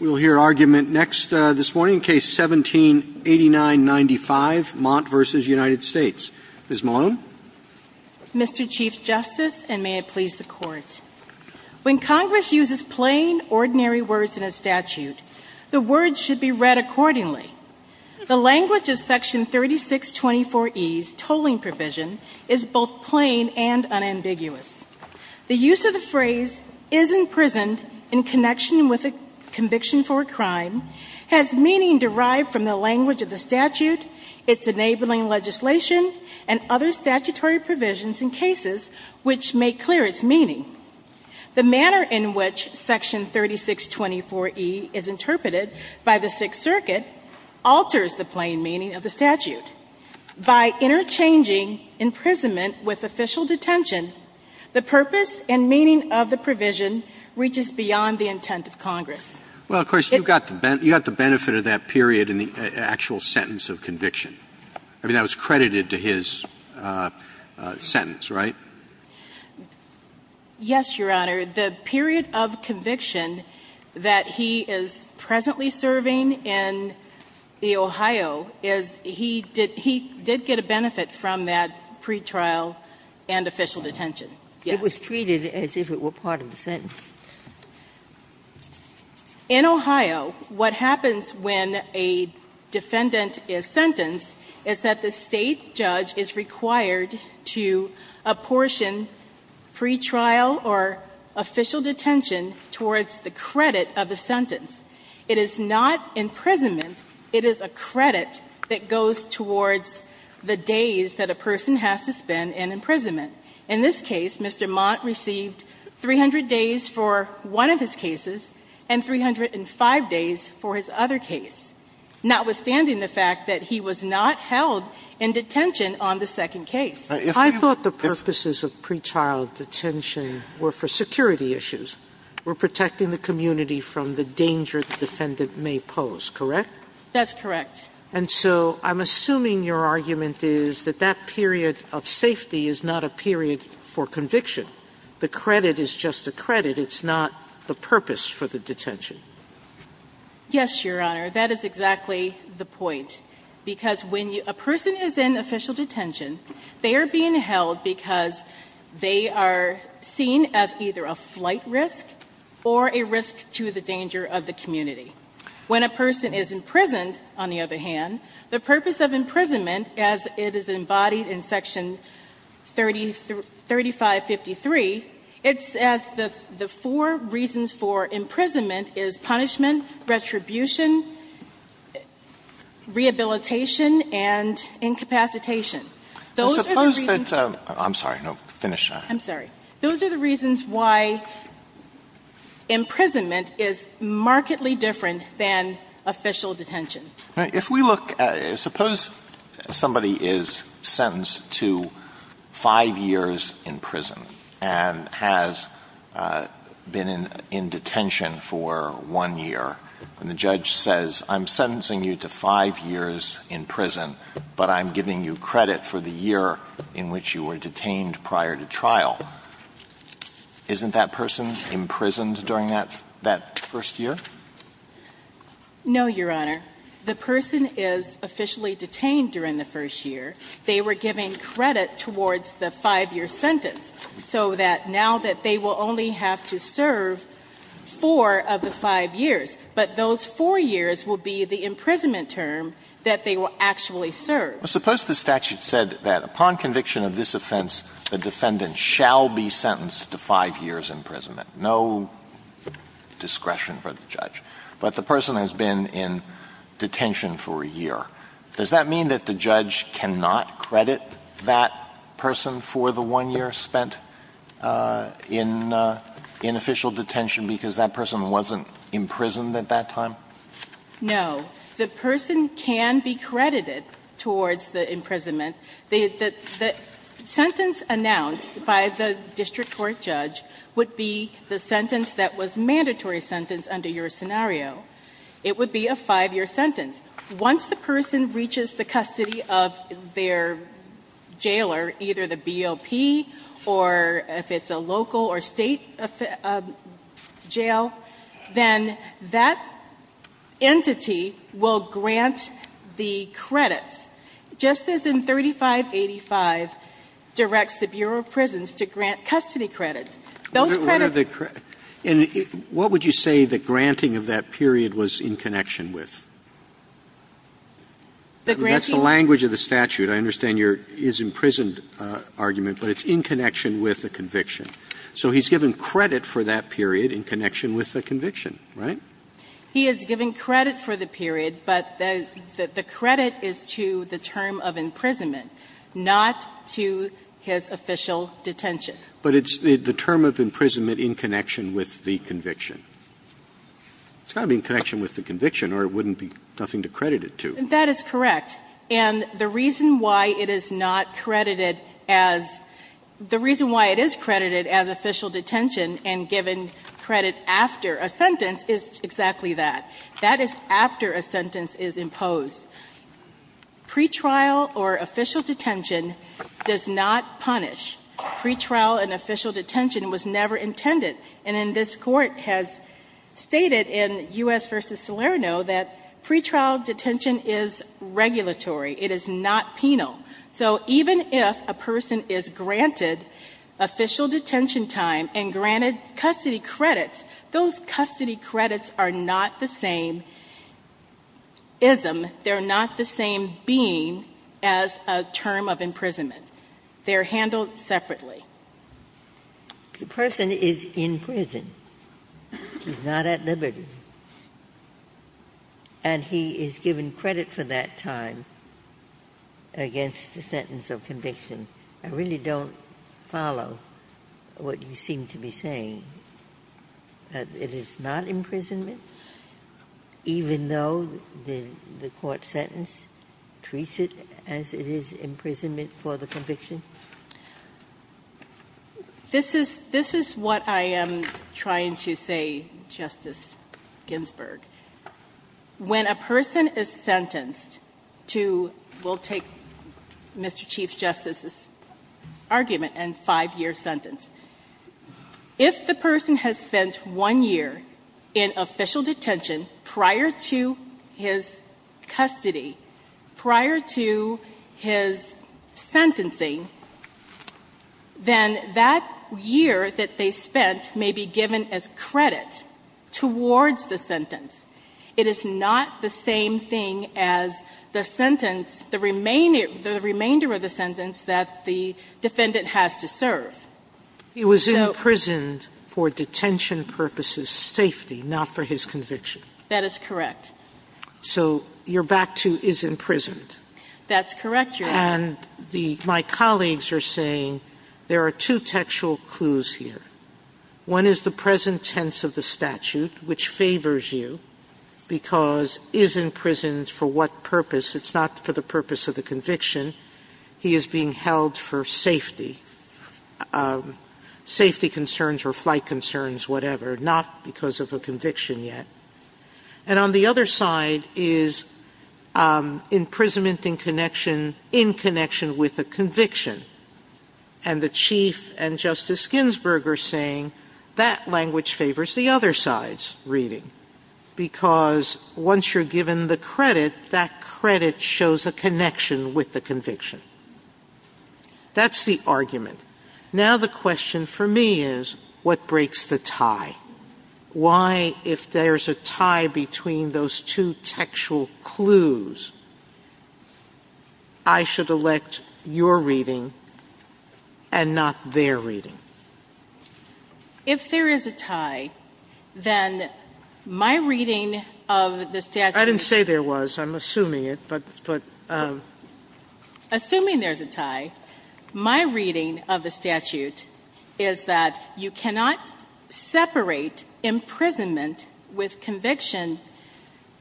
We will hear argument next this morning, Case 17-8995, Mott v. United States. Ms. Malone. Mr. Chief Justice, and may it please the Court, when Congress uses plain, ordinary words in a statute, the words should be read accordingly. The language of Section 3624e's tolling provision is both plain and unambiguous. The use of the phrase is imprisoned in connection with a conviction for a crime has meaning derived from the language of the statute, its enabling legislation, and other statutory provisions in cases which make clear its meaning. The manner in which Section 3624e is interpreted by the Sixth Circuit alters the plain meaning of the statute. By interchanging imprisonment with official detention, the purpose and meaning of the provision reaches beyond the intent of Congress. Well, of course, you got the benefit of that period in the actual sentence of conviction. I mean, that was credited to his sentence, right? Yes, Your Honor. The period of conviction that he is presently serving in the Ohio is he did get a benefit from that pretrial and official detention. Yes. It was treated as if it were part of the sentence. In Ohio, what happens when a defendant is sentenced is that the State judge is required to apportion pretrial or official detention towards the credit of the sentence. It is not imprisonment. It is a credit that goes towards the days that a person has to spend in imprisonment. In this case, Mr. Mott received 300 days for one of his cases and 305 days for his other case, notwithstanding the fact that he was not held in detention on the second case. I thought the purposes of pretrial detention were for security issues, were protecting the community from the danger the defendant may pose, correct? That's correct. And so I'm assuming your argument is that that period of safety is not a period for conviction. The credit is just a credit. It's not the purpose for the detention. Yes, Your Honor. That is exactly the point, because when a person is in official detention, they are being held because they are seen as either a flight risk or a risk to the danger of the community. When a person is imprisoned, on the other hand, the purpose of imprisonment, as it is embodied in Section 3553, it's as the four reasons for imprisonment is punishment, retribution, rehabilitation, and incapacitation. Those are the reasons that the reasons why imprisonment is markedly different than official detention. If we look at it, suppose somebody is sentenced to five years in prison and has been in detention for one year, and the judge says, I'm sentencing you to five years in prison, but I'm giving you credit for the year in which you were detained prior to trial, isn't that person imprisoned during that first year? No, Your Honor. The person is officially detained during the first year. They were given credit towards the five-year sentence, so that now that they will only have to serve four of the five years, but those four years will be the imprisonment term that they will actually serve. But suppose the statute said that upon conviction of this offense, the defendant shall be sentenced to five years imprisonment, no discretion for the judge. But the person has been in detention for a year. Does that mean that the judge cannot credit that person for the one year spent in official detention because that person wasn't imprisoned at that time? No. The person can be credited towards the imprisonment. The sentence announced by the district court judge would be the sentence that was a mandatory sentence under your scenario. It would be a five-year sentence. Once the person reaches the custody of their jailer, either the BOP or if it's a local or state jail, then that entity will grant the credits, just as in 3585 directs the Bureau of Prisons to grant custody credits. Those credits... Roberts And what would you say the granting of that period was in connection with? That's the language of the statute. I understand your is-imprisoned argument, but it's in connection with the conviction. So he's given credit for that period in connection with the conviction, right? He has given credit for the period, but the credit is to the term of imprisonment, not to his official detention. But it's the term of imprisonment in connection with the conviction. It's got to be in connection with the conviction or it wouldn't be nothing to credit it to. That is correct. And the reason why it is not credited as the reason why it is credited as official detention and given credit after a sentence is exactly that. That is after a sentence is imposed. Pretrial or official detention does not punish. Pretrial and official detention was never intended. And this Court has stated in U.S. v. Salerno that pretrial detention is regulatory. It is not penal. So even if a person is granted official detention time and granted custody credits, those custody credits are not the same is-im. They're not the same being as a term of imprisonment. They're handled separately. Ginsburg. The person is in prison. He's not at liberty. And he is given credit for that time against the sentence of conviction. I really don't follow what you seem to be saying. It is not imprisonment, even though the court sentence treats it as it is imprisonment for the conviction? This is what I am trying to say, Justice Ginsburg. When a person is sentenced to, we'll take Mr. Chief Justice's argument and five year sentence. If the person has spent one year in official detention prior to his custody, prior to his sentencing, then that year that they spent may be given as credit towards the sentence. It is not the same thing as the sentence, the remainder of the sentence that the defendant has to serve. He was imprisoned for detention purposes' safety, not for his conviction. That is correct. So you're back to is imprisoned. That's correct, Your Honor. And my colleagues are saying there are two textual clues here. One is the present tense of the statute, which favors you because is imprisoned for what purpose? It's not for the purpose of the conviction. He is being held for safety, safety concerns or flight concerns, whatever, not because of a conviction yet. And on the other side is imprisonment in connection with a conviction. And the Chief and Justice Ginsburg are saying that language favors the other side's reading because once you're given the credit, that credit shows a connection with the conviction. That's the argument. Now the question for me is what breaks the tie? Why, if there's a tie between those two textual clues, I should elect your reading and not their reading? If there is a tie, then my reading of the statute. I didn't say there was. I'm assuming it, but. Assuming there's a tie, my reading of the statute is that you cannot separate imprisonment with conviction.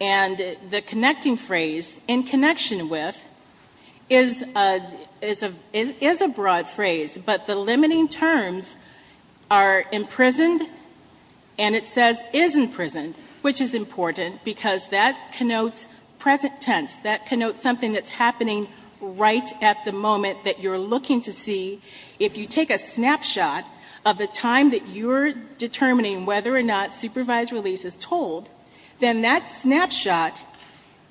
And the connecting phrase, in connection with, is a broad phrase. But the limiting terms are imprisoned and it says is imprisoned, which is important because that connotes present tense, that connotes something that's happening right at the moment that you're looking to see, if you take a snapshot of the time that you're determining whether or not supervised release is told, then that snapshot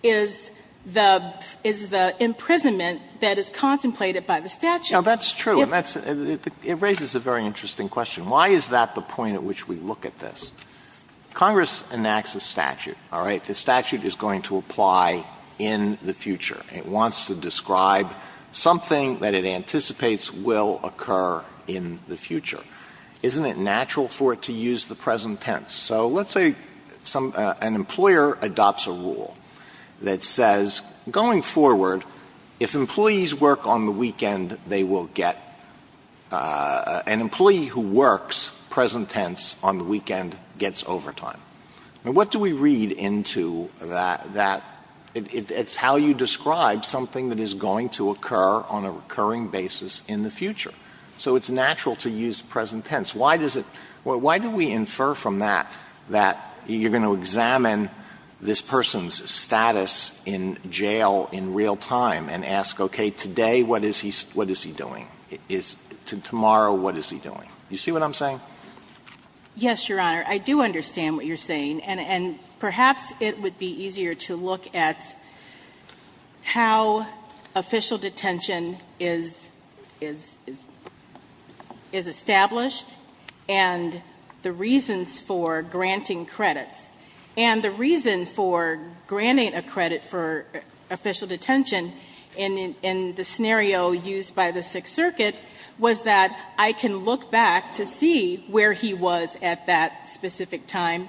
is the imprisonment that is contemplated by the statute. Now, that's true, and that's, it raises a very interesting question. Why is that the point at which we look at this? Congress enacts a statute, all right? The statute is going to apply in the future. It wants to describe something that it anticipates will occur in the future. Isn't it natural for it to use the present tense? So let's say some, an employer adopts a rule that says, going forward, if employees work on the weekend, they will get an employee who works present tense on the weekend gets overtime. Now, what do we read into that, it's how you describe something that is going to occur on a recurring basis in the future. So it's natural to use present tense. Why does it, why do we infer from that that you're going to examine this person's status in jail in real time and ask, okay, today what is he doing? Tomorrow, what is he doing? You see what I'm saying? Yes, Your Honor, I do understand what you're saying, and perhaps it would be easier to look at how official detention is, is, is established and the reasons for granting credits. And the reason for granting a credit for official detention in, in, in the scenario used by the Sixth Circuit was that I can look back to see where he was at that specific time,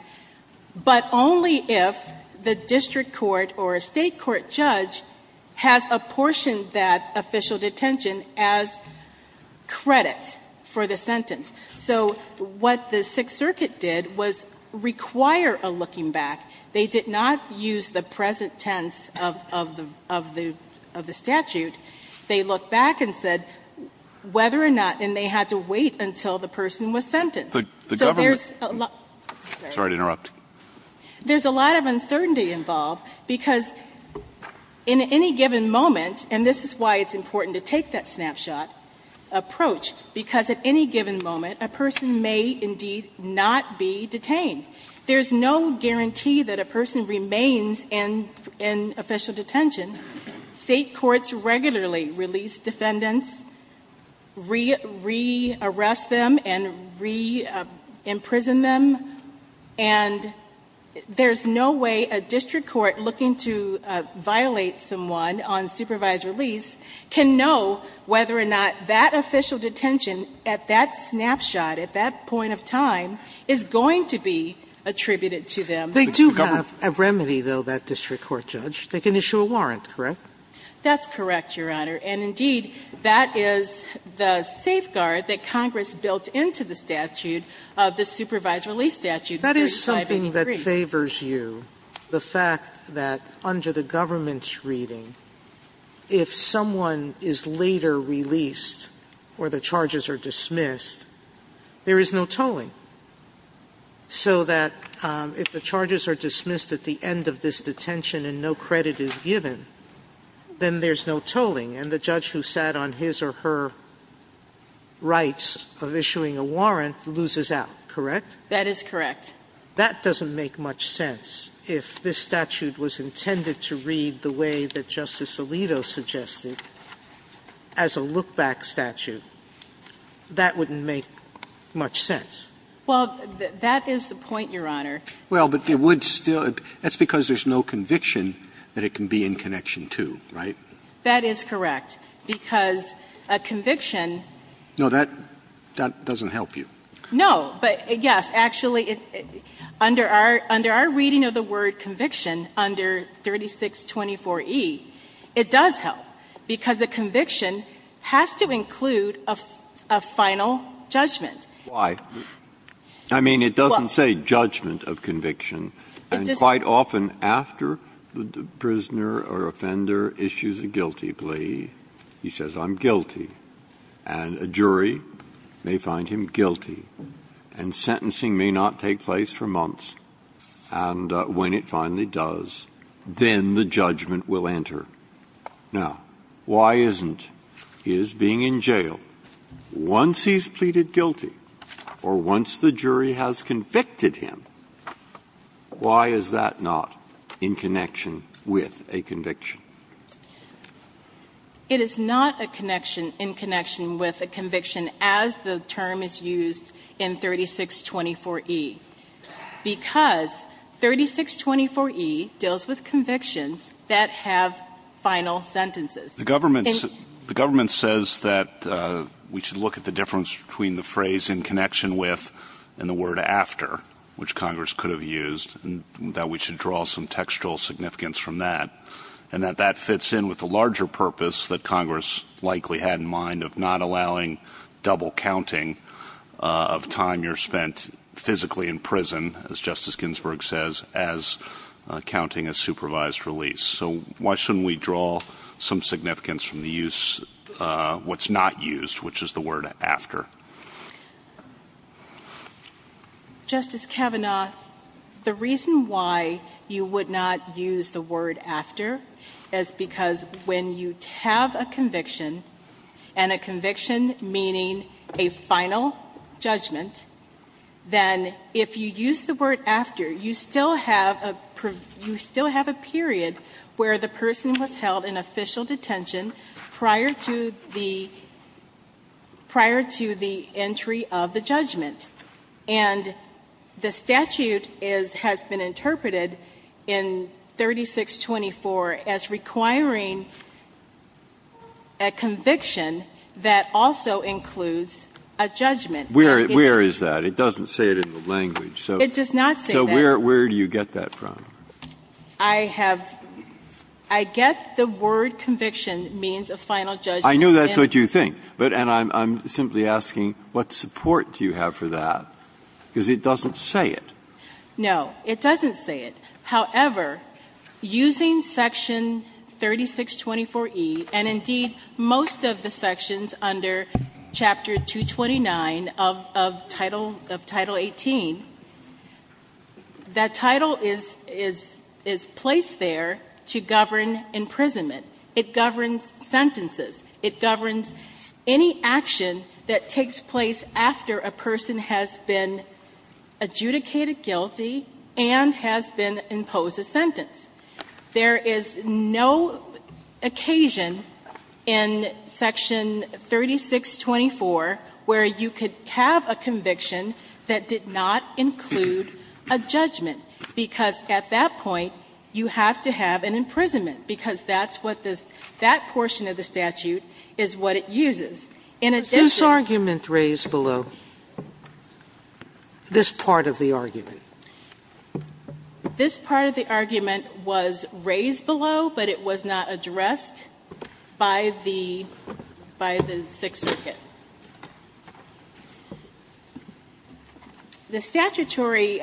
but only if the district court or a state court judge has apportioned that official detention as credit for the sentence. So what the Sixth Circuit did was require a looking back. They did not use the present tense of, of the, of the, of the statute. They looked back and said whether or not, and they had to wait until the person was sentenced. So there's a lot of uncertainty involved because in any given moment, and this is why it's important to take that snapshot approach, because at any given moment a person may indeed not be detained. There's no guarantee that a person remains in, in official detention. State courts regularly release defendants, re, re-arrest them and re-imprison them, and there's no way a district court looking to violate someone on supervised release can know whether or not that official detention at that snapshot, at that point of time, is going to be attributed to them. They do have a remedy, though, that district court judge. They can issue a warrant, correct? That's correct, Your Honor, and indeed, that is the safeguard that Congress built into the statute of the supervised release statute, 3583. That is something that favors you, the fact that under the government's reading, if someone is later released or the charges are dismissed, there is no tolling. So that if the charges are dismissed at the end of this detention and no credit is given, then there's no tolling, and the judge who sat on his or her rights of issuing a warrant loses out, correct? That is correct. That doesn't make much sense. If this statute was intended to read the way that Justice Alito suggested as a look-back statute, that wouldn't make much sense. Well, that is the point, Your Honor. Well, but it would still be – that's because there's no conviction that it can be in connection to, right? That is correct, because a conviction – No, that doesn't help you. No, but yes, actually, under our reading of the word conviction, under 3624e, it does help, because a conviction has to include a final judgment. Why? I mean, it doesn't say judgment of conviction. And quite often, after the prisoner or offender issues a guilty plea, he says, I'm guilty, and a jury may find him guilty, and sentencing may not take place for months. And when it finally does, then the judgment will enter. Once he's pleaded guilty, or once the jury has convicted him, why is that not in connection with a conviction? It is not a connection in connection with a conviction as the term is used in 3624e, because 3624e deals with convictions that have final sentences. The government says that we should look at the difference between the phrase in connection with and the word after, which Congress could have used, and that we should draw some textual significance from that, and that that fits in with the larger purpose that Congress likely had in mind of not allowing double counting of time you're spent physically in prison, as Justice Ginsburg says, as counting a supervised release. So why shouldn't we draw some significance from the use of what's not used, which is the word after? Justice Kavanaugh, the reason why you would not use the word after is because when you have a conviction, and a conviction meaning a final judgment, then if you use the word after, you still have a period where the person was held in official detention prior to the entry of the judgment. And the statute has been interpreted in 3624 as requiring a conviction that also includes a judgment. Breyer, where is that? It doesn't say it in the language. So where do you get that from? I have – I get the word conviction means a final judgment. I know that's what you think, but – and I'm simply asking what support do you have for that, because it doesn't say it. No, it doesn't say it. However, using section 3624E, and indeed most of the sections under Chapter 229 of Title – of Title 18, that title is – is placed there to govern imprisonment. It governs sentences. It governs any action that takes place after a person has been adjudicated There is no occasion in section 3624 where you could have a conviction that did not include a judgment, because at that point you have to have an imprisonment, because that's what this – that portion of the statute is what it uses. In addition – But this argument raised below, this part of the argument. This part of the argument was raised below, but it was not addressed by the – by the Sixth Circuit. The statutory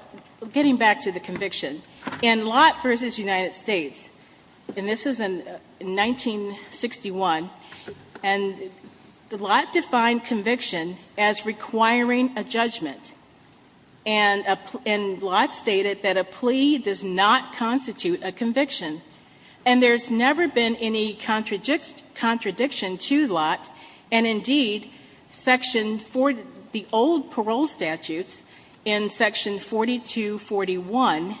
– getting back to the conviction, in Lott v. United States, and this is in 1961, and Lott defined conviction as requiring a judgment. And Lott stated that a plea does not constitute a conviction. And there's never been any contradiction to Lott, and indeed, section – the old parole statutes in section 4241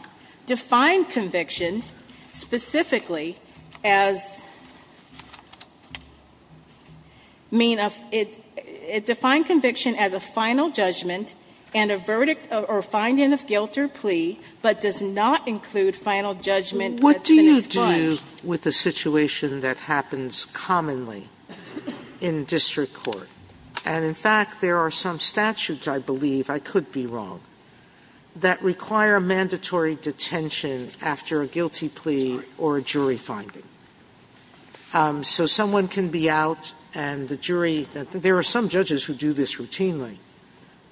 define conviction specifically as – I mean, it defines conviction as a final judgment and a verdict or finding of guilt or plea, but does not include final judgment that's been expunged. Sotomayor What do you do with a situation that happens commonly in district court? And in fact, there are some statutes, I believe, I could be wrong, that require mandatory detention after a guilty plea or a jury finding. So someone can be out and the jury – there are some judges who do this routinely.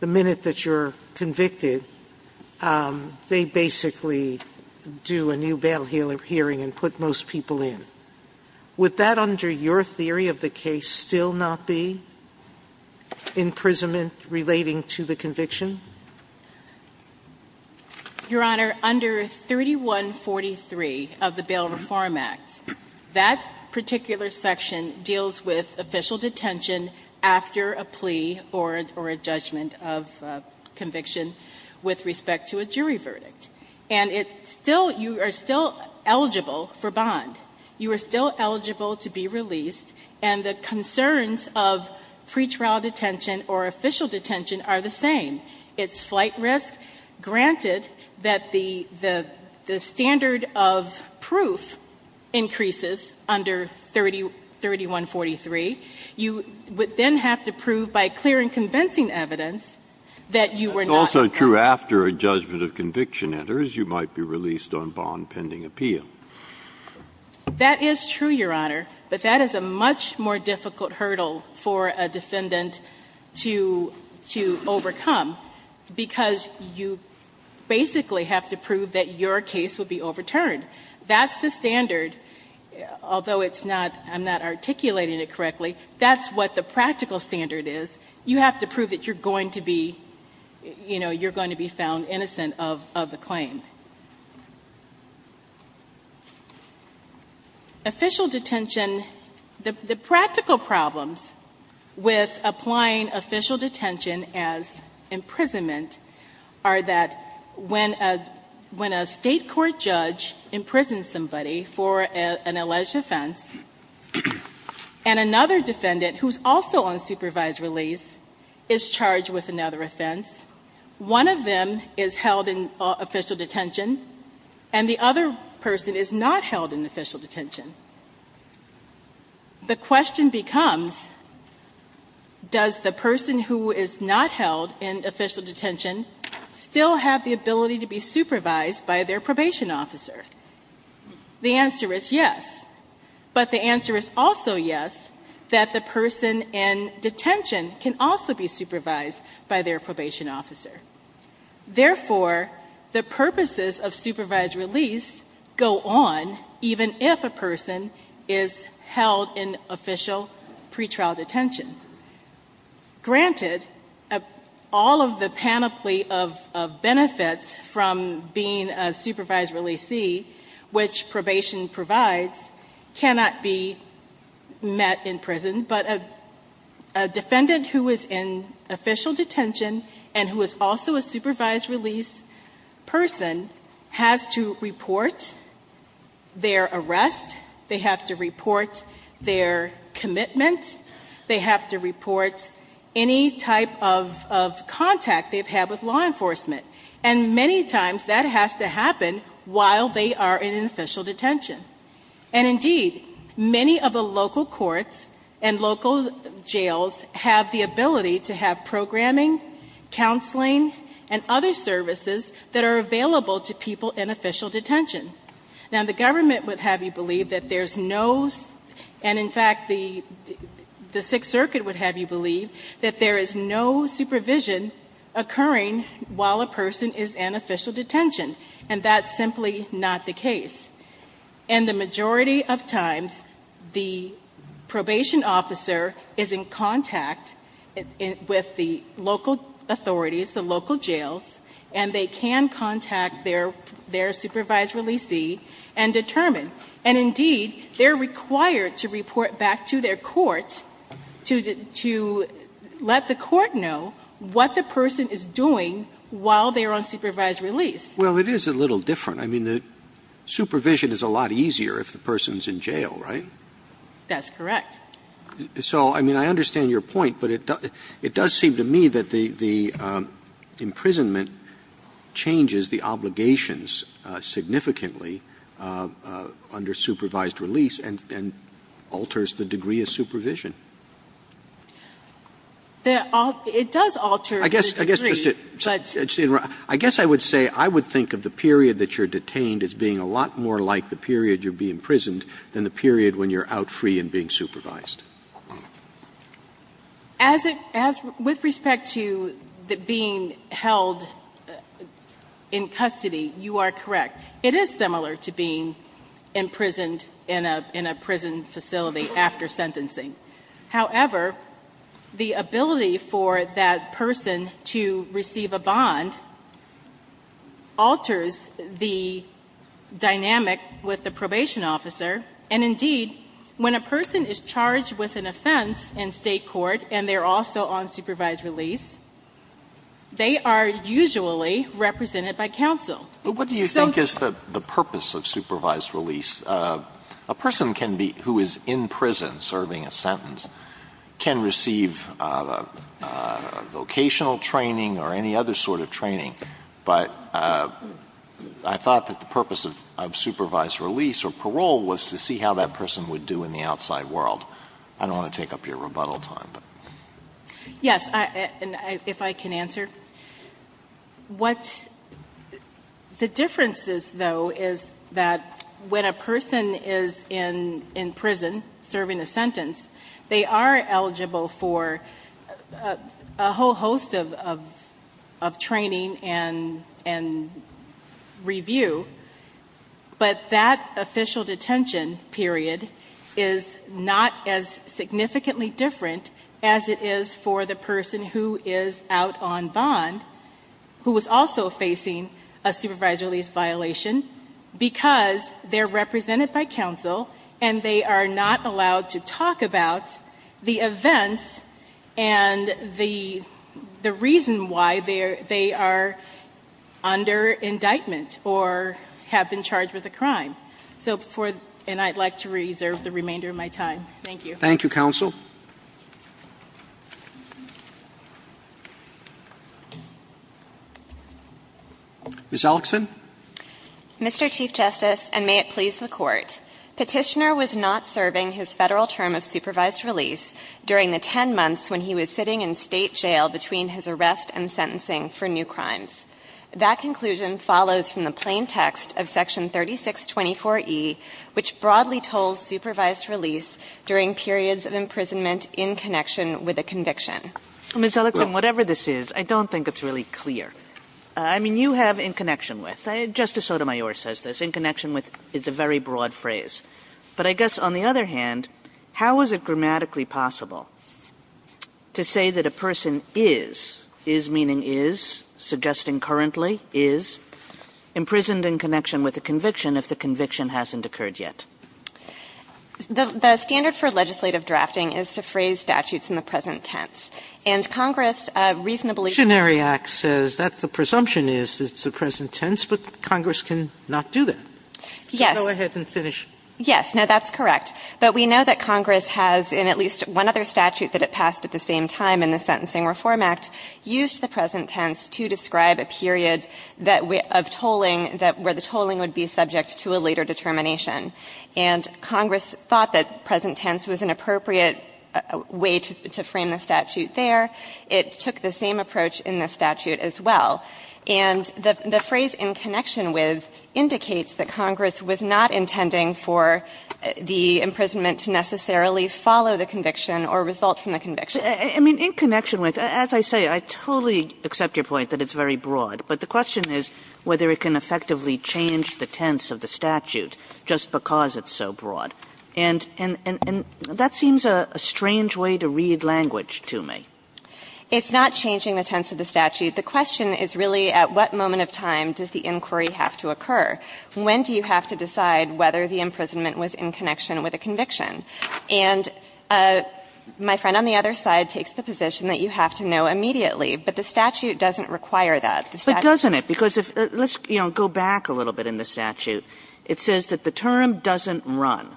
The minute that you're convicted, they basically do a new bail hearing and put most people in. Would that, under your theory of the case, still not be imprisonment relating to the conviction? Your Honor, under 3143 of the Bail Reform Act, that particular section deals with official detention after a plea or a judgment of conviction with respect to a jury verdict. And it's still – you are still eligible for bond. You are still eligible to be released. And the concerns of pretrial detention or official detention are the same. It's flight risk. Granted that the standard of proof increases under 3143. You would then have to prove, by clear and convincing evidence, that you were not convicted. Breyer That's also true after a judgment of conviction You might be released on bond pending appeal. Sotomayor That is true, Your Honor. But that is a much more difficult hurdle for a defendant to overcome because you basically have to prove that your case will be overturned. That's the standard, although it's not – I'm not articulating it correctly. That's what the practical standard is. You have to prove that you're going to be – you know, you're going to be found innocent of the claim. Official detention – the practical problems with applying official detention as imprisonment are that when a state court judge imprisons somebody for an alleged offense, and another defendant, who's also on supervised release, is charged with another offense, one of them is held in official detention, and the other is not held in official detention, the question becomes, does the person who is not held in official detention still have the ability to be supervised by their probation officer? The answer is yes. But the answer is also yes, that the person in detention can also be supervised by their probation officer. Therefore, the purposes of supervised release go on even if a person is held in official pretrial detention. Granted, all of the panoply of benefits from being a supervised releasee, which probation provides, cannot be met in prison, but a defendant who is in also a supervised release person has to report their arrest, they have to report their commitment, they have to report any type of contact they've had with law enforcement. And many times that has to happen while they are in official detention. And indeed, many of the local courts and local jails have the ability to have probation and other services that are available to people in official detention. Now, the government would have you believe that there's no, and in fact, the Sixth Circuit would have you believe that there is no supervision occurring while a person is in official detention. And that's simply not the case. And the majority of times, the probation officer is in contact with the local authorities, the local jails, and they can contact their supervised releasee and determine. And indeed, they're required to report back to their court to let the court know what the person is doing while they are on supervised release. Roberts. Well, it is a little different. I mean, the supervision is a lot easier if the person is in jail, right? That's correct. So, I mean, I understand your point. But it does seem to me that the imprisonment changes the obligations significantly under supervised release and alters the degree of supervision. It does alter the degree. I guess I would say I would think of the period that you're detained as being a lot more like the period you're being imprisoned than the period when you're out free and being supervised. As with respect to being held in custody, you are correct. It is similar to being imprisoned in a prison facility after sentencing. However, the ability for that person to receive a bond alters the dynamic with the probation officer. And indeed, when a person is charged with an offense in State court and they're also on supervised release, they are usually represented by counsel. So the purpose of supervised release, a person who is in prison serving a sentence can receive vocational training or any other sort of training. But I thought that the purpose of supervised release or parole was to see how that person would do in the outside world. I don't want to take up your rebuttal time, but. Yes. And if I can answer. What the difference is, though, is that when a person is in prison serving a sentence, they are eligible for a whole host of training and review. But that official detention period is not as significantly different as it is for the person who is out on bond who is also facing a supervised release violation because they're represented by counsel and they are not allowed to talk about the events and the reason why they are under indictment or have been charged with a crime. And I'd like to reserve the remainder of my time. Thank you. Thank you, counsel. Ms. Alexand. Mr. Chief Justice, and may it please the Court. Petitioner was not serving his Federal term of supervised release during the 10 months when he was sitting in State jail between his arrest and sentencing for new crimes. That conclusion follows from the plain text of Section 3624e, which broadly tolls in connection with a conviction. Ms. Alexand, whatever this is, I don't think it's really clear. I mean, you have in connection with. Justice Sotomayor says this. In connection with is a very broad phrase. But I guess on the other hand, how is it grammatically possible to say that a person is, is meaning is, suggesting currently is, imprisoned in connection with a conviction if the conviction hasn't occurred yet? The standard for legislative drafting is to phrase statutes in the present tense. And Congress reasonably The Petitionary Act says that the presumption is that it's the present tense, but Congress cannot do that. Yes. So go ahead and finish. Yes. Now, that's correct. But we know that Congress has, in at least one other statute that it passed at the same time in the Sentencing Reform Act, used the present tense to describe a period of tolling that where the tolling would be subject to a later determination. And Congress thought that present tense was an appropriate way to frame the statute there. It took the same approach in the statute as well. And the phrase in connection with indicates that Congress was not intending for the imprisonment to necessarily follow the conviction or result from the conviction. I mean, in connection with. As I say, I totally accept your point that it's very broad. But the question is whether it can effectively change the tense of the statute just because it's so broad. And that seems a strange way to read language to me. It's not changing the tense of the statute. The question is really at what moment of time does the inquiry have to occur. When do you have to decide whether the imprisonment was in connection with a conviction? And my friend on the other side takes the position that you have to know immediately, but the statute doesn't require that. Kagan. But doesn't it? Because let's go back a little bit in the statute. It says that the term doesn't run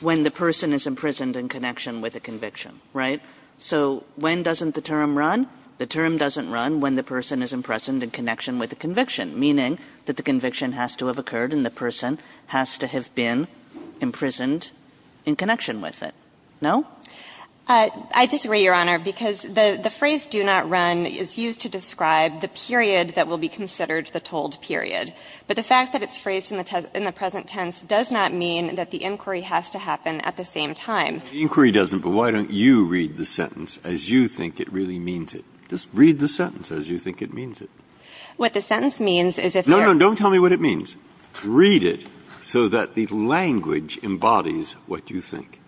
when the person is imprisoned in connection with a conviction. Right? So when doesn't the term run? The term doesn't run when the person is imprisoned in connection with a conviction, meaning that the conviction has to have occurred and the person has to have been imprisoned in connection with it. No? I disagree, Your Honor, because the phrase do not run is used to describe the period that will be considered the told period, but the fact that it's phrased in the present tense does not mean that the inquiry has to happen at the same time. The inquiry doesn't, but why don't you read the sentence as you think it really means it? Just read the sentence as you think it means it. What the sentence means is if you're No, no. Don't tell me what it means. Read it so that the language embodies what you think.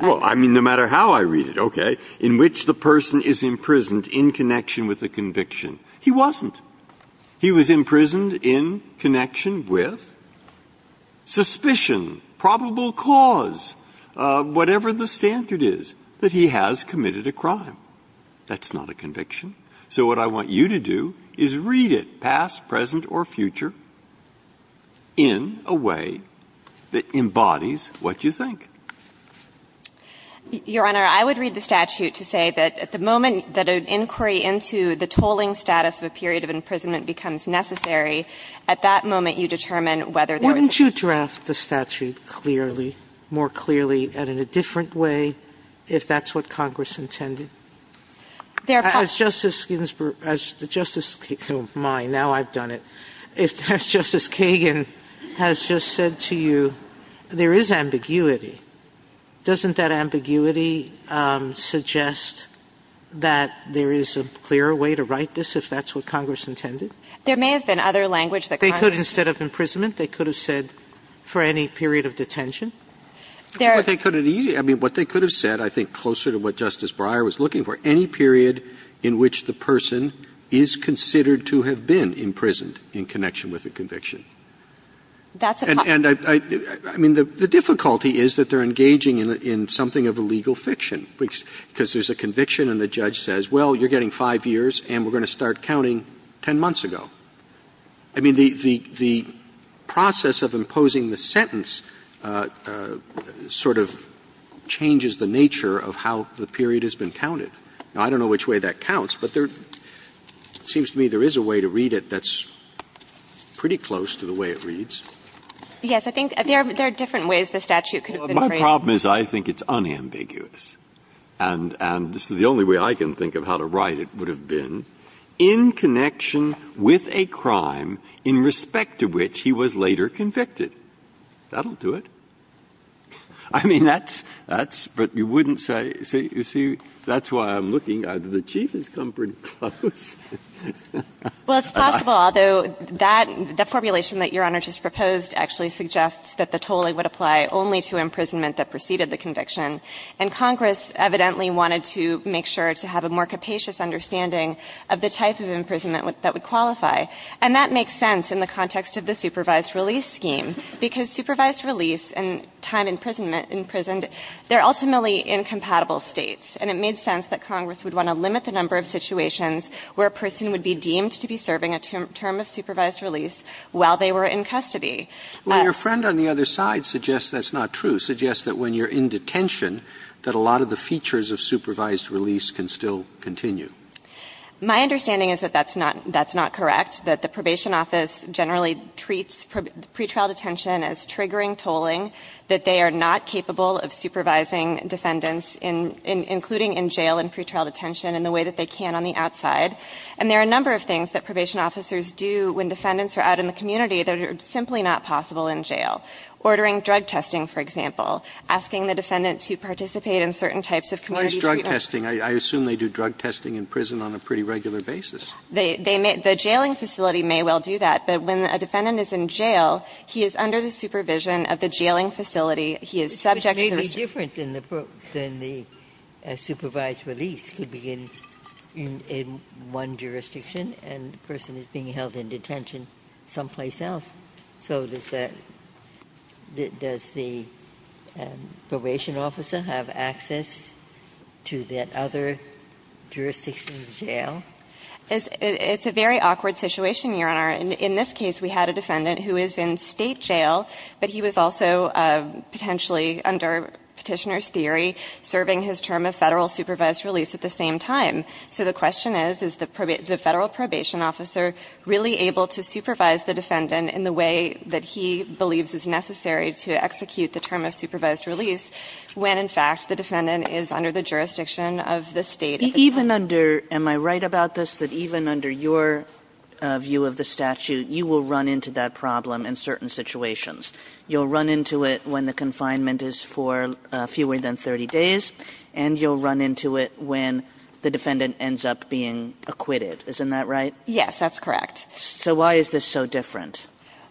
Well, I mean, no matter how I read it. Okay. In which the person is imprisoned in connection with a conviction. He wasn't. He was imprisoned in connection with suspicion, probable cause, whatever the standard is, that he has committed a crime. That's not a conviction. So what I want you to do is read it, past, present, or future, in a way that embodies what you think. Your Honor, I would read the statute to say that at the moment that an inquiry into the tolling status of a period of imprisonment becomes necessary, at that moment you determine whether there is a statute. Sotomayor, wouldn't you draft the statute clearly, more clearly and in a different way if that's what Congress intended? As Justice Ginsburg, as Justice Kagan, my, now I've done it. As Justice Kagan has just said to you, there is ambiguity. Doesn't that ambiguity suggest that there is a clearer way to write this if that's what Congress intended? There may have been other language that Congress intended. They could, instead of imprisonment, they could have said for any period of detention. There are. I mean, what they could have said, I think, closer to what Justice Breyer was looking for, any period in which the person is considered to have been imprisoned in connection with a conviction. And I mean, the difficulty is that they're engaging in something of a legal fiction, because there's a conviction and the judge says, well, you're getting five years and we're going to start counting 10 months ago. I mean, the process of imposing the sentence sort of changes the nature of how the period has been counted. Now, I don't know which way that counts, but there seems to me there is a way to read it that's pretty close to the way it reads. Yes. I think there are different ways the statute could have been phrased. Well, my problem is I think it's unambiguous. And so the only way I can think of how to write it would have been, in connection with a crime in respect to which he was later convicted. That'll do it. I mean, that's, that's, but you wouldn't say, you see, that's why I'm looking. The Chief has come pretty close. Well, it's possible, although that, the formulation that Your Honor just proposed actually suggests that the toll would apply only to imprisonment that preceded the conviction. And Congress evidently wanted to make sure to have a more capacious understanding of the type of imprisonment that would qualify. And that makes sense in the context of the supervised release scheme, because supervised release and time imprisonment, imprisoned, they're ultimately incompatible States. And it made sense that Congress would want to limit the number of situations where a person would be deemed to be serving a term of supervised release while they were in custody. Well, your friend on the other side suggests that's not true, suggests that when you're in detention, that a lot of the features of supervised release can still continue. My understanding is that that's not, that's not correct, that the probation office generally treats pretrial detention as triggering tolling, that they are not capable of supervising defendants in, including in jail and pretrial detention in the way that they can on the outside. And there are a number of things that probation officers do when defendants are out in the community that are simply not possible in jail. Ordering drug testing, for example, asking the defendant to participate in certain types of community treatment. Roberts, I assume they do drug testing in prison on a pretty regular basis. They may, the jailing facility may well do that. But when a defendant is in jail, he is under the supervision of the jailing facility. He is subject to the restriction. Ginsburg, which may be different than the supervised release could be in one jurisdiction and the person is being held in detention someplace else. So does that, does the probation officer have access to that other jurisdiction in jail? It's a very awkward situation, Your Honor. In this case, we had a defendant who is in State jail, but he was also potentially under Petitioner's theory serving his term of Federal supervised release at the same time. So the question is, is the Federal probation officer really able to supervise the defendant in the way that he believes is necessary to execute the term of supervised release when, in fact, the defendant is under the jurisdiction of the State? Even under, am I right about this? That even under your view of the statute, you will run into that problem in certain situations. You'll run into it when the confinement is for fewer than 30 days and you'll run into it when the defendant ends up being acquitted. Isn't that right? Yes, that's correct. So why is this so different?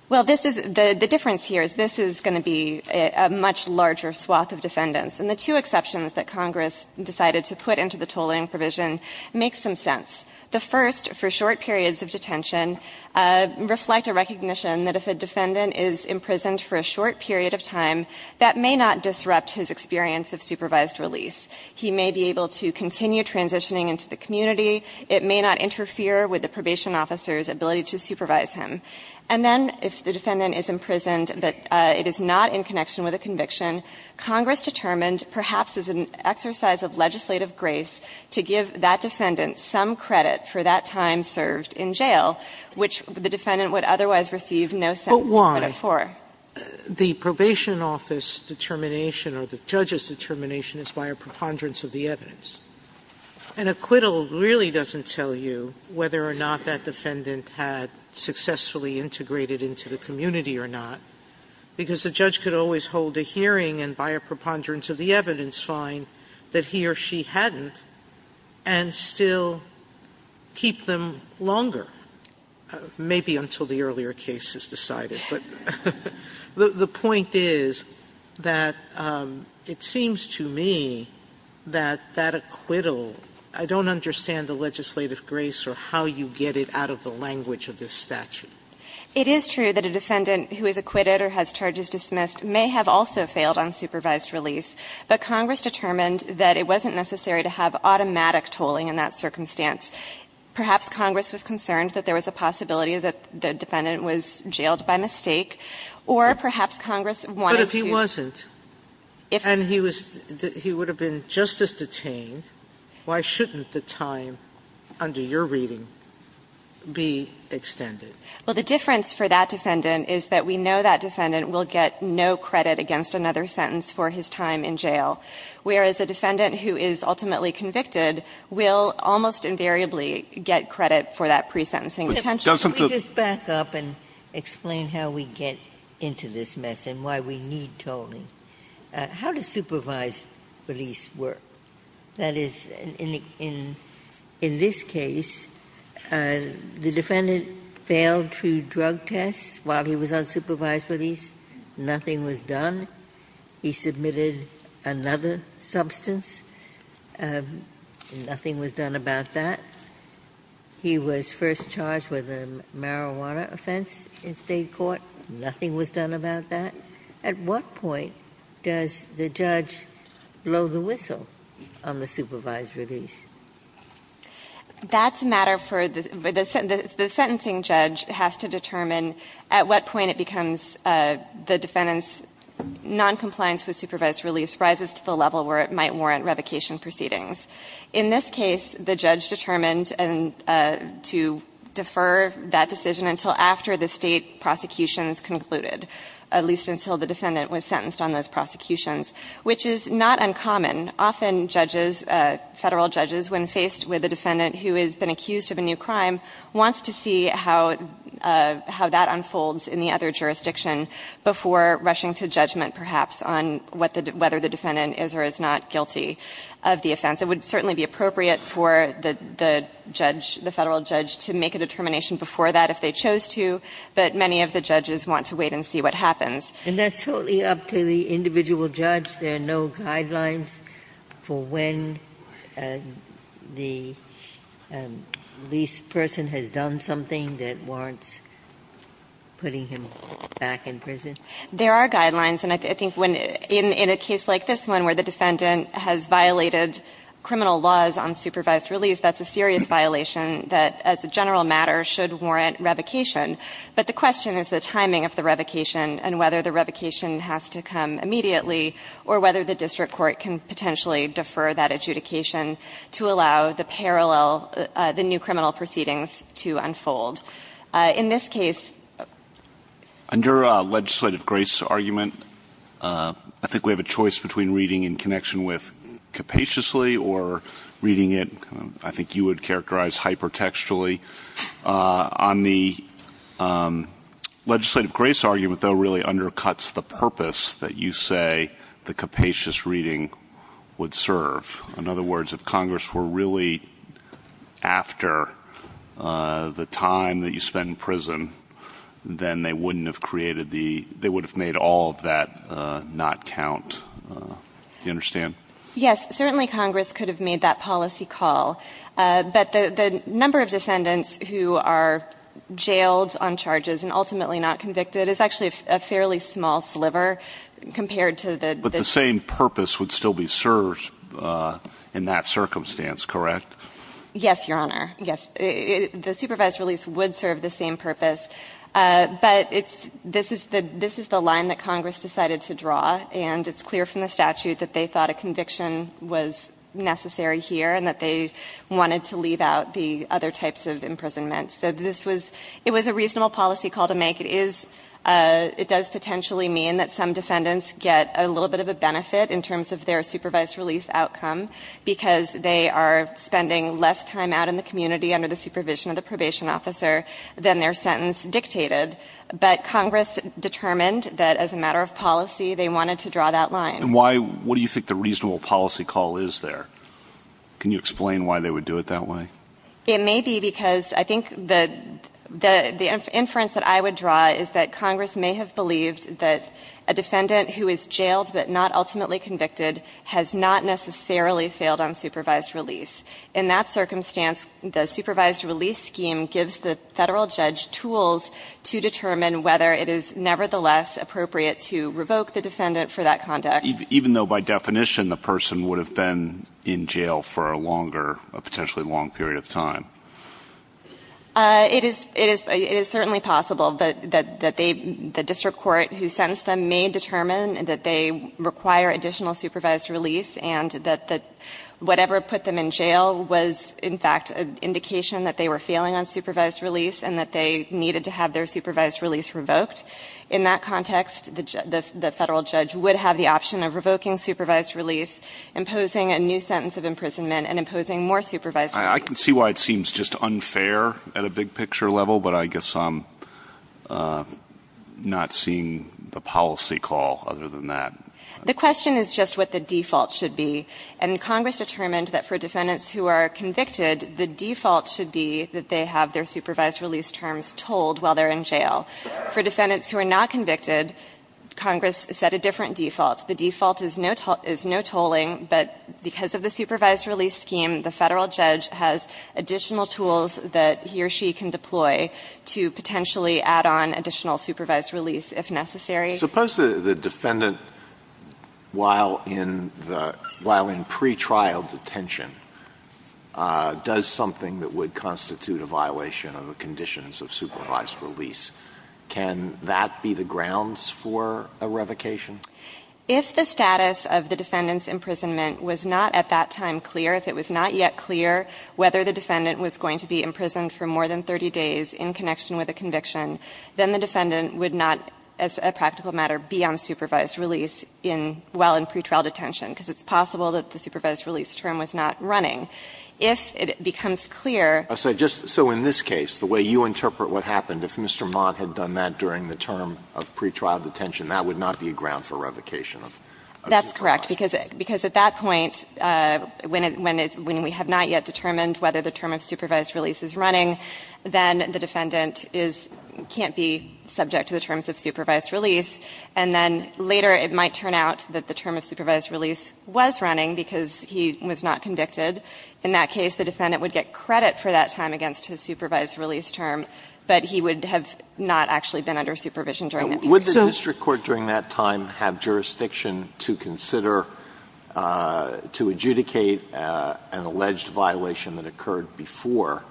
Well, this is, the difference here is this is going to be a much larger swath of defendants. And the two exceptions that Congress decided to put into the tolling provision make some sense. The first, for short periods of detention, reflect a recognition that if a defendant is imprisoned for a short period of time, that may not disrupt his experience of supervised release. He may be able to continue transitioning into the community. It may not interfere with the probation officer's ability to supervise him. And then, if the defendant is imprisoned but it is not in connection with a conviction, Congress determined, perhaps as an exercise of legislative grace, to give that defendant some credit for that time served in jail, which the defendant would otherwise receive no sense of credit for. But why? The probation office determination or the judge's determination is by a preponderance of the evidence. An acquittal really doesn't tell you whether or not that defendant had successfully integrated into the community or not, because the judge could always hold a hearing and, by a preponderance of the evidence, find that he or she hadn't and still keep them longer, maybe until the earlier case is decided. But the point is that it seems to me that that acquittal, I don't understand the legislative grace or how you get it out of the language of this statute. It is true that a defendant who is acquitted or has charges dismissed may have also failed on supervised release, but Congress determined that it wasn't necessary to have automatic tolling in that circumstance. Perhaps Congress was concerned that there was a possibility that the defendant was jailed by mistake, or perhaps Congress wanted to do that. Sotomayor, if he wasn't and he was he would have been just as detained, why shouldn't the time under your reading be extended? Well, the difference for that defendant is that we know that defendant will get no credit against another sentence for his time in jail, whereas a defendant who is ultimately convicted will almost invariably get credit for that pre-sentencing potential. Justice Ginsburg. Can we just back up and explain how we get into this mess and why we need tolling? How does supervised release work? That is, in this case, the defendant failed to drug test while he was on supervised release. Nothing was done. He submitted another substance. Nothing was done about that. He was first charged with a marijuana offense in State court. Nothing was done about that. At what point does the judge blow the whistle on the supervised release? That's a matter for the sentencing judge has to determine at what point it becomes the defendant's noncompliance with supervised release rises to the level where it might warrant revocation proceedings. In this case, the judge determined to defer that decision until after the State prosecutions concluded, at least until the defendant was sentenced on those prosecutions, which is not uncommon. Often judges, Federal judges, when faced with a defendant who has been accused of a new crime, wants to see how that unfolds in the other jurisdiction before rushing to judgment perhaps on whether the defendant is or is not guilty of the offense. It would certainly be appropriate for the judge, the Federal judge, to make a determination before that if they chose to, but many of the judges want to wait and see what happens. And that's totally up to the individual judge. There are no guidelines for when the release person has done something that warrants putting him back in prison? There are guidelines. And I think when, in a case like this one where the defendant has violated criminal laws on supervised release, that's a serious violation that, as a general matter, should warrant revocation. But the question is the timing of the revocation and whether the revocation has to come immediately or whether the district court can potentially defer that adjudication to allow the parallel, the new criminal proceedings to unfold. In this case under a legislative grace argument, I think we have a choice between reading in connection with capaciously or reading it, I think you would characterize hypertextually. On the legislative grace argument, though, really undercuts the purpose that you say the capacious reading would serve. In other words, if Congress were really after the time that you spend in prison, then they wouldn't have created the, they would have made all of that not count. Do you understand? Yes, certainly Congress could have made that policy call. But the number of defendants who are jailed on charges and ultimately not convicted is actually a fairly small sliver compared to the- The purpose would still be served in that circumstance, correct? Yes, Your Honor. Yes. The supervised release would serve the same purpose. But it's, this is the line that Congress decided to draw. And it's clear from the statute that they thought a conviction was necessary here and that they wanted to leave out the other types of imprisonments. So this was, it was a reasonable policy call to make. It is, it does potentially mean that some defendants get a little bit of a benefit in terms of their supervised release outcome because they are spending less time out in the community under the supervision of the probation officer than their sentence dictated. But Congress determined that as a matter of policy, they wanted to draw that line. And why, what do you think the reasonable policy call is there? Can you explain why they would do it that way? It may be because I think the, the inference that I would draw is that Congress may have believed that a defendant who is jailed but not ultimately convicted has not necessarily failed on supervised release. In that circumstance, the supervised release scheme gives the Federal judge tools to determine whether it is nevertheless appropriate to revoke the defendant for that conduct. Even though by definition, the person would have been in jail for a longer, a potentially long period of time. It is, it is, it is certainly possible that, that, that they, the district court who sentenced them may determine that they require additional supervised release and that the, whatever put them in jail was in fact an indication that they were failing on supervised release and that they needed to have their supervised release revoked. In that context, the, the Federal judge would have the option of revoking supervised release, imposing a new sentence of imprisonment, and imposing more supervised release. I can see why it seems just unfair at a big picture level, but I guess I'm not seeing the policy call other than that. The question is just what the default should be. And Congress determined that for defendants who are convicted, the default should be that they have their supervised release terms told while they're in jail. For defendants who are not convicted, Congress set a different default. The default is no toll, is no tolling, but because of the supervised release scheme, the Federal judge has additional tools that he or she can deploy to potentially add on additional supervised release if necessary. Alitoson Suppose the defendant, while in the, while in pretrial detention, does something that would constitute a violation of the conditions of supervised release. Can that be the grounds for a revocation? If the status of the defendant's imprisonment was not at that time clear, if it was not yet clear whether the defendant was going to be imprisoned for more than 30 days in connection with a conviction, then the defendant would not, as a practical matter, be on supervised release in, while in pretrial detention, because it's possible that the supervised release term was not running. If it becomes clear. Alitoson So just, so in this case, the way you interpret what happened, if Mr. Mott had done that during the term of pretrial detention, that would not be a ground for revocation. That's correct, because, because at that point, when it, when it, when we have not yet determined whether the term of supervised release is running, then the defendant is, can't be subject to the terms of supervised release. And then later, it might turn out that the term of supervised release was running because he was not convicted. In that case, the defendant would get credit for that time against his supervised release term, but he would have not actually been under supervision during that period. Alitoson So would the district court during that time have jurisdiction to consider, to adjudicate an alleged violation that occurred before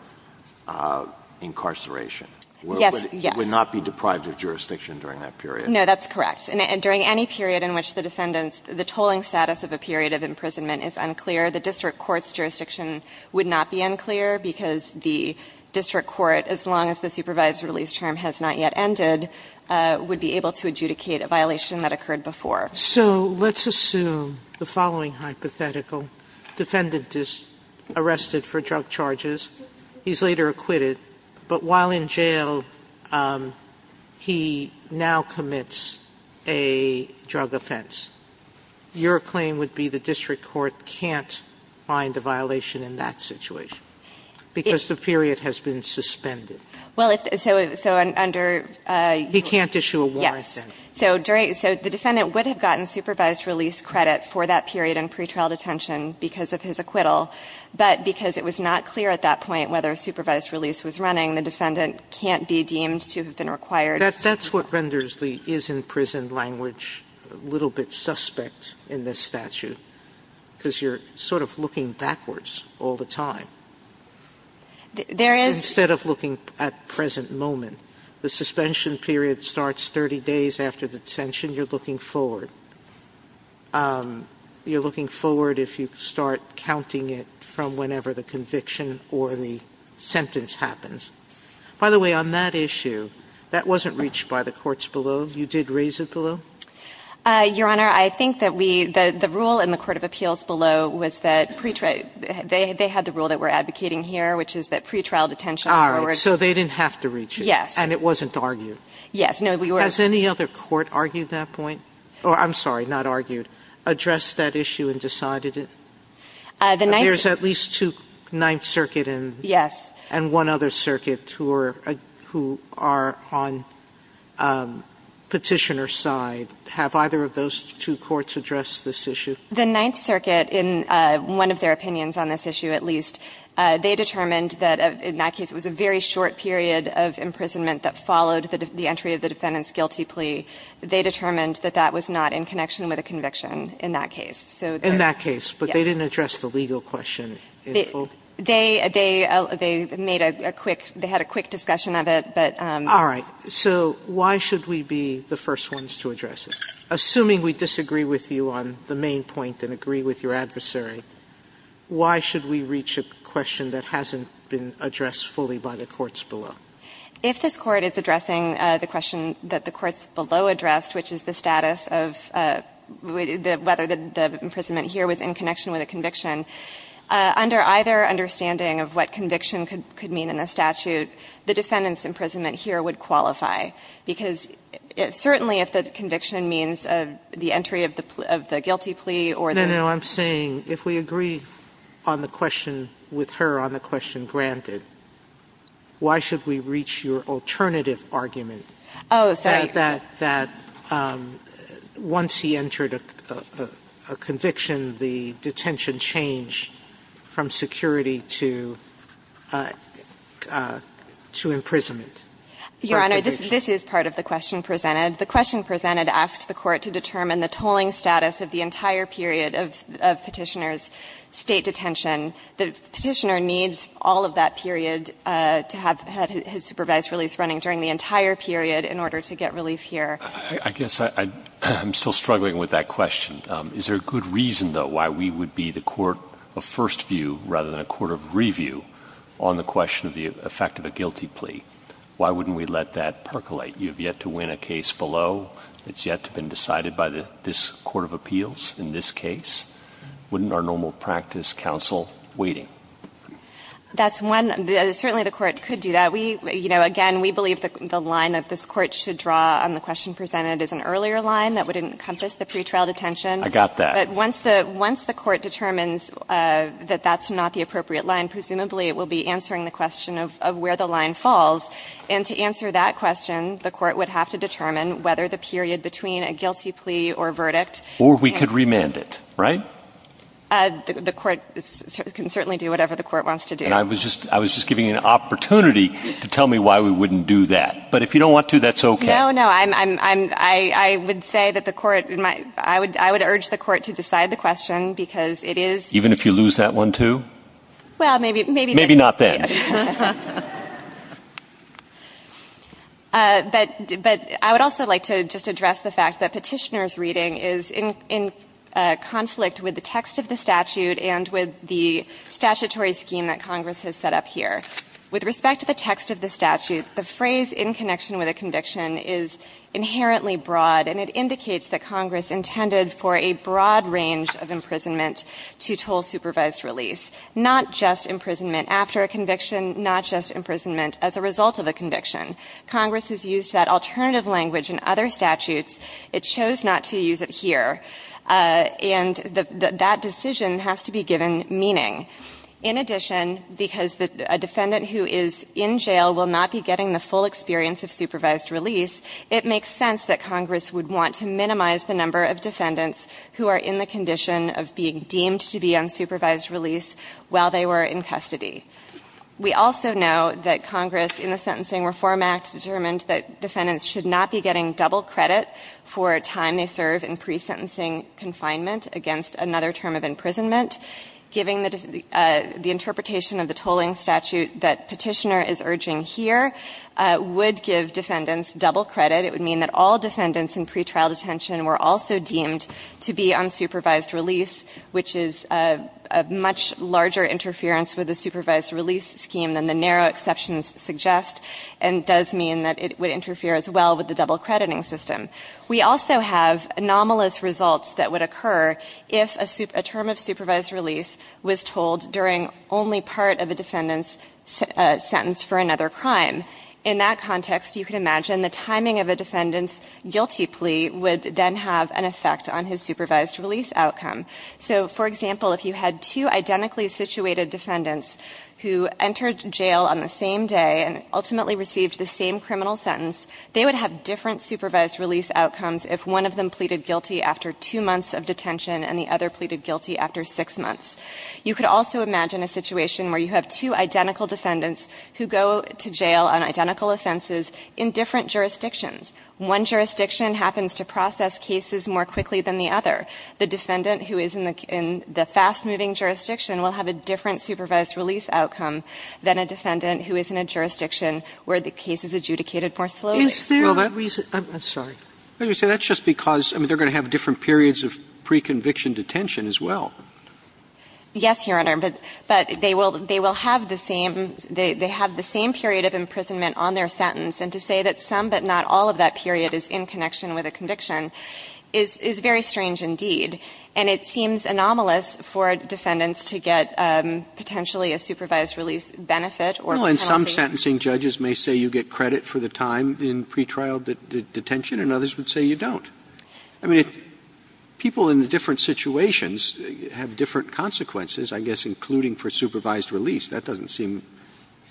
incarceration? Alitoson Would it not be deprived of jurisdiction during that period? No, that's correct. And during any period in which the defendant's, the tolling status of a period of imprisonment is unclear, the district court's jurisdiction would not be unclear because the district court, as long as the supervised release term has not yet ended, would be able to adjudicate a violation that occurred before. Sotomayor So let's assume the following hypothetical. Defendant is arrested for drug charges. He's later acquitted, but while in jail, he now commits a drug offense. Your claim would be the district court can't find a violation in that situation because the period has been suspended. Alitoson Well, so under the Sotomayor He can't issue a warrant then. Alitoson Yes. So the defendant would have gotten supervised release credit for that period in pretrial detention because of his acquittal, but because it was not clear at that point whether a supervised release was running, the defendant can't be deemed to have been required. Sotomayor That's what renders the is-in-prison language a little bit suspect in this statute, because you're sort of looking backwards all the time. Alitoson There is Sotomayor Instead of looking at present moment, the suspension period starts 30 days after detention. You're looking forward. You're looking forward if you start counting it from whenever the conviction or the sentence happens. By the way, on that issue, that wasn't reached by the courts below. You did raise it below. Alitoson Your Honor, I think that we the rule in the court of appeals below was that they had the rule that we're advocating here, which is that pretrial detention or Sotomayor All right. So they didn't have to reach it. Alitoson Yes. Sotomayor And it wasn't argued. Alitoson Yes. No, we were Sotomayor Has any other court argued that point? Or I'm sorry, not argued. Addressed that issue and decided it? Alitoson The ninth Sotomayor There's at least two, Ninth Circuit and Alitoson Yes. Sotomayor And one other circuit who are on Petitioner's side. Have either of those two courts addressed this issue? Alitoson The Ninth Circuit, in one of their opinions on this issue, at least, they determined that in that case it was a very short period of imprisonment that followed the entry of the defendant's guilty plea. They determined that that was not in connection with a conviction in that case. So Sotomayor In that case, but they didn't address the legal question in full? Alitoson They made a quick, they had a quick discussion of it, but Sotomayor All right. So why should we be the first ones to address it? Assuming we disagree with you on the main point and agree with your adversary, why should we reach a question that hasn't been addressed fully by the courts below? Alitoson If this Court is addressing the question that the courts below addressed, which is the status of whether the imprisonment here was in connection with a conviction, under either understanding of what conviction could mean in the statute, the defendant's imprisonment here would qualify. Because certainly if the conviction means the entry of the guilty plea or the other Sotomayor No, no. I'm saying if we agree on the question with her on the question granted, why should we reach your alternative argument that once he entered a conviction, the detention change from security to imprisonment. This is part of the question presented. The question presented asked the Court to determine the tolling status of the entire period of Petitioner's State detention. The Petitioner needs all of that period to have had his supervised release running during the entire period in order to get relief here. Roberts I guess I'm still struggling with that question. Is there a good reason, though, why we would be the court of first view rather than a court of review on the question of the effect of a guilty plea? Why wouldn't we let that percolate? You have yet to win a case below. It's yet to have been decided by this court of appeals in this case. Wouldn't our normal practice counsel waiting? That's one. Certainly the Court could do that. We, you know, again, we believe the line that this Court should draw on the question presented is an earlier line that would encompass the pretrial detention. I got that. But once the Court determines that that's not the appropriate line, presumably it will be answering the question of where the line falls. And to answer that question, the Court would have to determine whether the period between a guilty plea or verdict. Or we could remand it, right? The Court can certainly do whatever the Court wants to do. And I was just giving you an opportunity to tell me why we wouldn't do that. But if you don't want to, that's okay. No, no, I would say that the Court, I would urge the Court to decide the question because it is. Even if you lose that one, too? Well, maybe. Maybe not then. But I would also like to just address the fact that Petitioner's reading is in conflict with the text of the statute and with the statutory scheme that Congress has set up here. With respect to the text of the statute, the phrase, in connection with a conviction, is inherently broad, and it indicates that Congress intended for a broad range of imprisonment to toll supervised release. Not just imprisonment after a conviction, not just imprisonment as a result of a conviction. Congress has used that alternative language in other statutes. It chose not to use it here. And that decision has to be given meaning. In addition, because a defendant who is in jail will not be getting the full experience of supervised release, it makes sense that Congress would want to minimize the number of defendants who are in the condition of being deemed to be on supervised release while they were in custody. We also know that Congress, in the Sentencing Reform Act, determined that defendants should not be getting double credit for a time they serve in pre-sentencing confinement against another term of imprisonment. Giving the interpretation of the tolling statute that Petitioner is urging here would give defendants double credit. It would mean that all defendants in pretrial detention were also deemed to be on supervised release, which is a much larger interference with the supervised release scheme than the narrow exceptions suggest, and does mean that it would interfere as well with the double crediting system. We also have anomalous results that would occur if a term of supervised release was told during only part of a defendant's sentence for another crime. In that context, you can imagine the timing of a defendant's guilty plea would then have an effect on his supervised release outcome. So, for example, if you had two identically situated defendants who entered jail on the same day and ultimately received the same criminal sentence, they would have different supervised release outcomes if one of them pleaded guilty after two months of detention and the other pleaded guilty after six months. You could also imagine a situation where you have two identical defendants who go to jail on identical offenses in different jurisdictions. One jurisdiction happens to process cases more quickly than the other. The defendant who is in the fast-moving jurisdiction will have a different supervised release outcome than a defendant who is in a jurisdiction where the case is adjudicated more slowly. Sotomayor, I'm sorry. Roberts, that's just because they're going to have different periods of pre-conviction detention as well. Yes, Your Honor. But they will have the same period of imprisonment on their sentence. And to say that some but not all of that period is in connection with a conviction is very strange indeed. And it seems anomalous for defendants to get potentially a supervised release benefit or penalty. Well, and some sentencing judges may say you get credit for the time in pretrial detention and others would say you don't. I mean, if people in different situations have different consequences, I guess, including for supervised release, that doesn't seem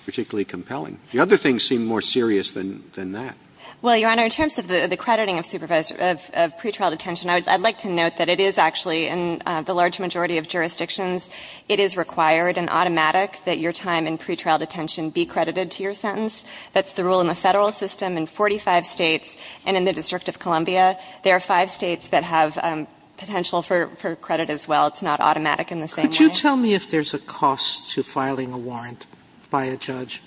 particularly compelling. The other things seem more serious than that. Well, Your Honor, in terms of the crediting of pretrial detention, I'd like to note that it is actually in the large majority of jurisdictions it is required and automatic that your time in pretrial detention be credited to your sentence. That's the rule in the federal system. In 45 states and in the District of Columbia, there are five states that have potential for credit as well. It's not automatic in the same way. Could you tell me if there's a cost to filing a warrant by a judge?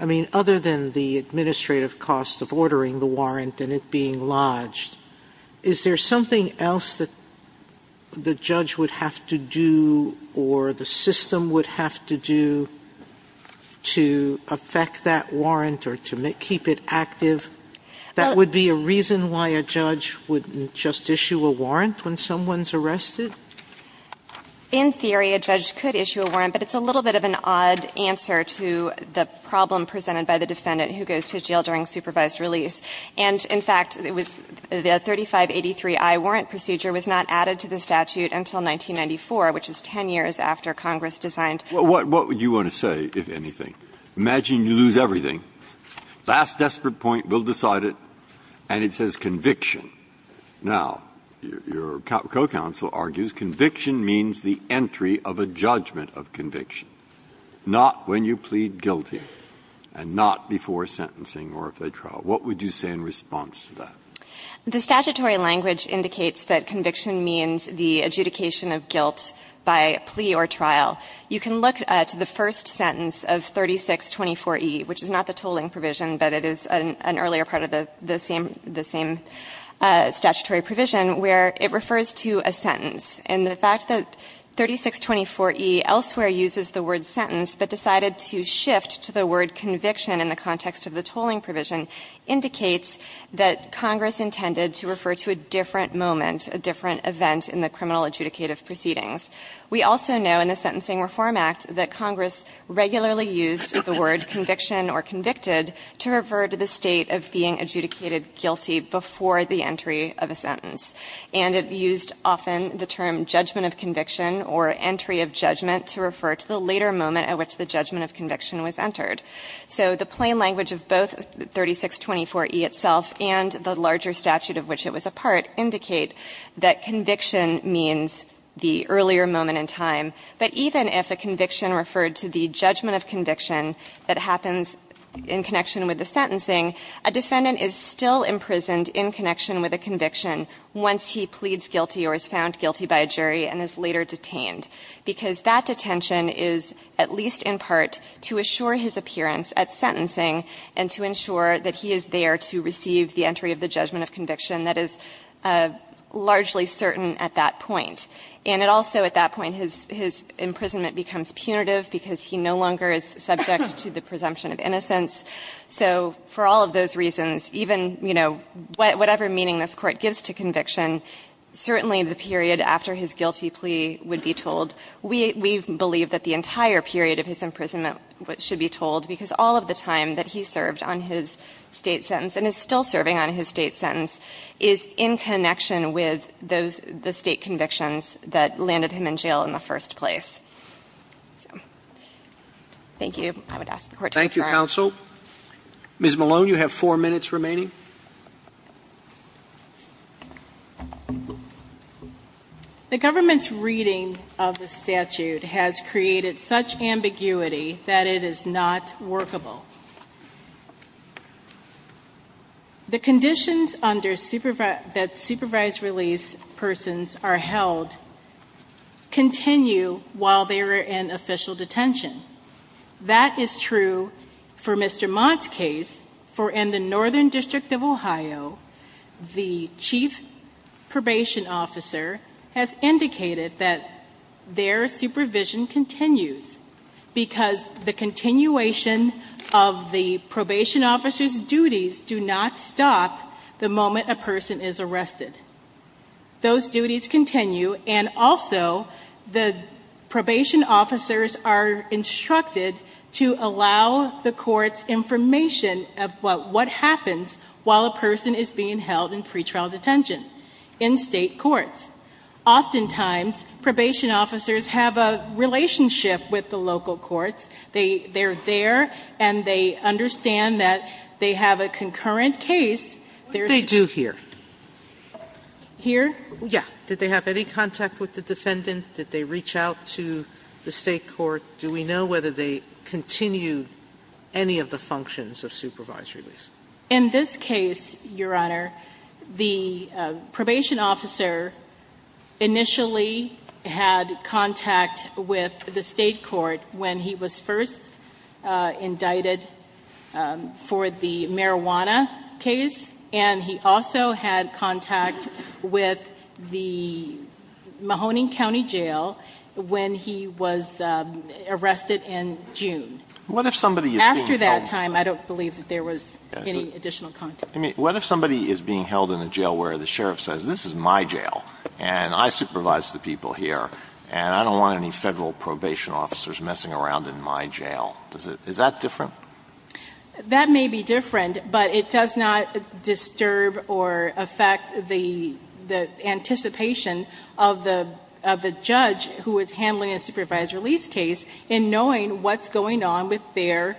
I mean, other than the administrative cost of ordering the warrant and it being lodged, is there something else that the judge would have to do or the system would have to do to affect that warrant or to keep it active? That would be a reason why a judge wouldn't just issue a warrant when someone's arrested? In theory, a judge could issue a warrant, but it's a little bit of an odd answer to the problem presented by the defendant who goes to jail during supervised release. And, in fact, the 3583i warrant procedure was not added to the statute until 1994, which is 10 years after Congress designed. Breyer, what would you want to say, if anything? Imagine you lose everything. Last desperate point, we'll decide it, and it says conviction. Now, your co-counsel argues conviction means the entry of a judgment of conviction, not when you plead guilty and not before sentencing or if they trial. What would you say in response to that? The statutory language indicates that conviction means the adjudication of guilt by plea or trial. You can look to the first sentence of 3624e, which is not the tolling provision, but it is an earlier part of the same statutory provision, where it refers to a sentence. And the fact that 3624e elsewhere uses the word sentence but decided to shift to the word conviction in the context of the tolling provision indicates that Congress intended to refer to a different moment, a different event in the criminal adjudicative proceedings. We also know in the Sentencing Reform Act that Congress regularly used the word conviction or convicted to refer to the state of being adjudicated guilty before the entry of a sentence. And it used often the term judgment of conviction or entry of judgment to refer to the later moment at which the judgment of conviction was entered. So the plain language of both 3624e itself and the larger statute of which it was a part indicate that conviction means the earlier moment in time. But even if a conviction referred to the judgment of conviction that happens in connection with the sentencing, a defendant is still imprisoned in connection with a conviction once he pleads guilty or is found guilty by a jury and is later detained, because that detention is at least in part to assure his appearance at sentencing and to ensure that he is there to receive the entry of the judgment of conviction that is largely certain at that point. And it also, at that point, his imprisonment becomes punitive because he no longer is subject to the presumption of innocence. So for all of those reasons, even, you know, whatever meaning this Court gives to conviction, certainly the period after his guilty plea would be told. We believe that the entire period of his imprisonment should be told, because all of the time that he served on his State sentence and is still serving on his State sentence is in connection with the State convictions that landed him in jail in the first place. So thank you. I would ask the Court to defer. Roberts. Thank you, counsel. Ms. Malone, you have four minutes remaining. Thank you. The government's reading of the statute has created such ambiguity that it is not workable. The conditions that supervised release persons are held continue while they are in official detention. That is true for Mr. Mott's case, for in the Northern District of Ohio, the chief probation officer has indicated that their supervision continues because the continuation of the probation officer's duties do not stop the moment a person is arrested. Those duties continue. And also, the probation officers are instructed to allow the courts information of what happens while a person is being held in pretrial detention in State courts. Oftentimes, probation officers have a relationship with the local courts. They are there and they understand that they have a concurrent case. What did they do here? Here? Yeah. Did they have any contact with the defendant? Did they reach out to the State court? Do we know whether they continued any of the functions of supervised release? In this case, Your Honor, the probation officer initially had contact with the State court when he was first indicted for the marijuana case, and he also had contact with the Mahoning County Jail when he was arrested in June. What if somebody is being held? After that time, I don't believe that there was any additional contact. I mean, what if somebody is being held in a jail where the sheriff says, this is my jail and I supervise the people here and I don't want any Federal probation officers messing around in my jail? Is that different? That may be different, but it does not disturb or affect the anticipation of the judge who is handling a supervised release case in knowing what's going on with their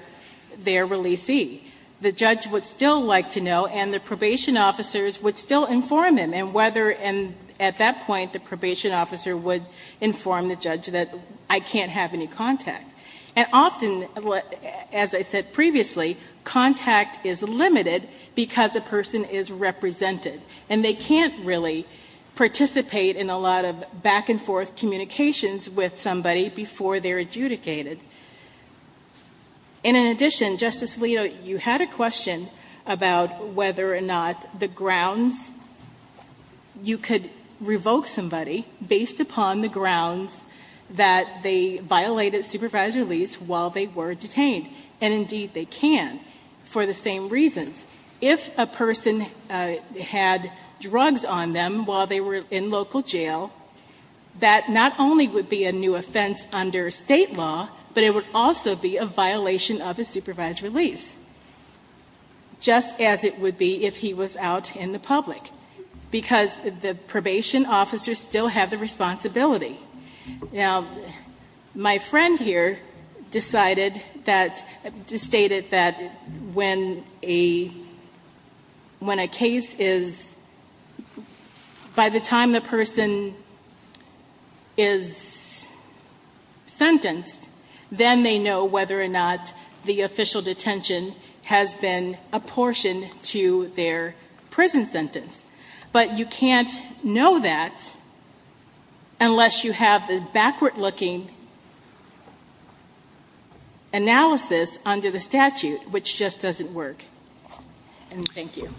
releasee. The judge would still like to know and the probation officers would still inform him, and at that point the probation officer would inform the judge that I can't have any contact. And often, as I said previously, contact is limited because a person is represented and they can't really participate in a lot of back-and-forth communications with somebody before they're adjudicated. And in addition, Justice Alito, you had a question about whether or not the grounds you could revoke somebody based upon the grounds that they violated supervised release while they were detained, and indeed they can, for the same reasons. If a person had drugs on them while they were in local jail, that not only would be a new offense under State law, but it would also be a violation of a supervised release, just as it would be if he was out in the public, because the probation officers still have the responsibility. Now, my friend here decided that, stated that when a case is, by the time the person is sentenced, then they know whether or not the official detention has been apportioned to their prison sentence. But you can't know that unless you have the backward-looking analysis under the statute, which just doesn't work. And thank you.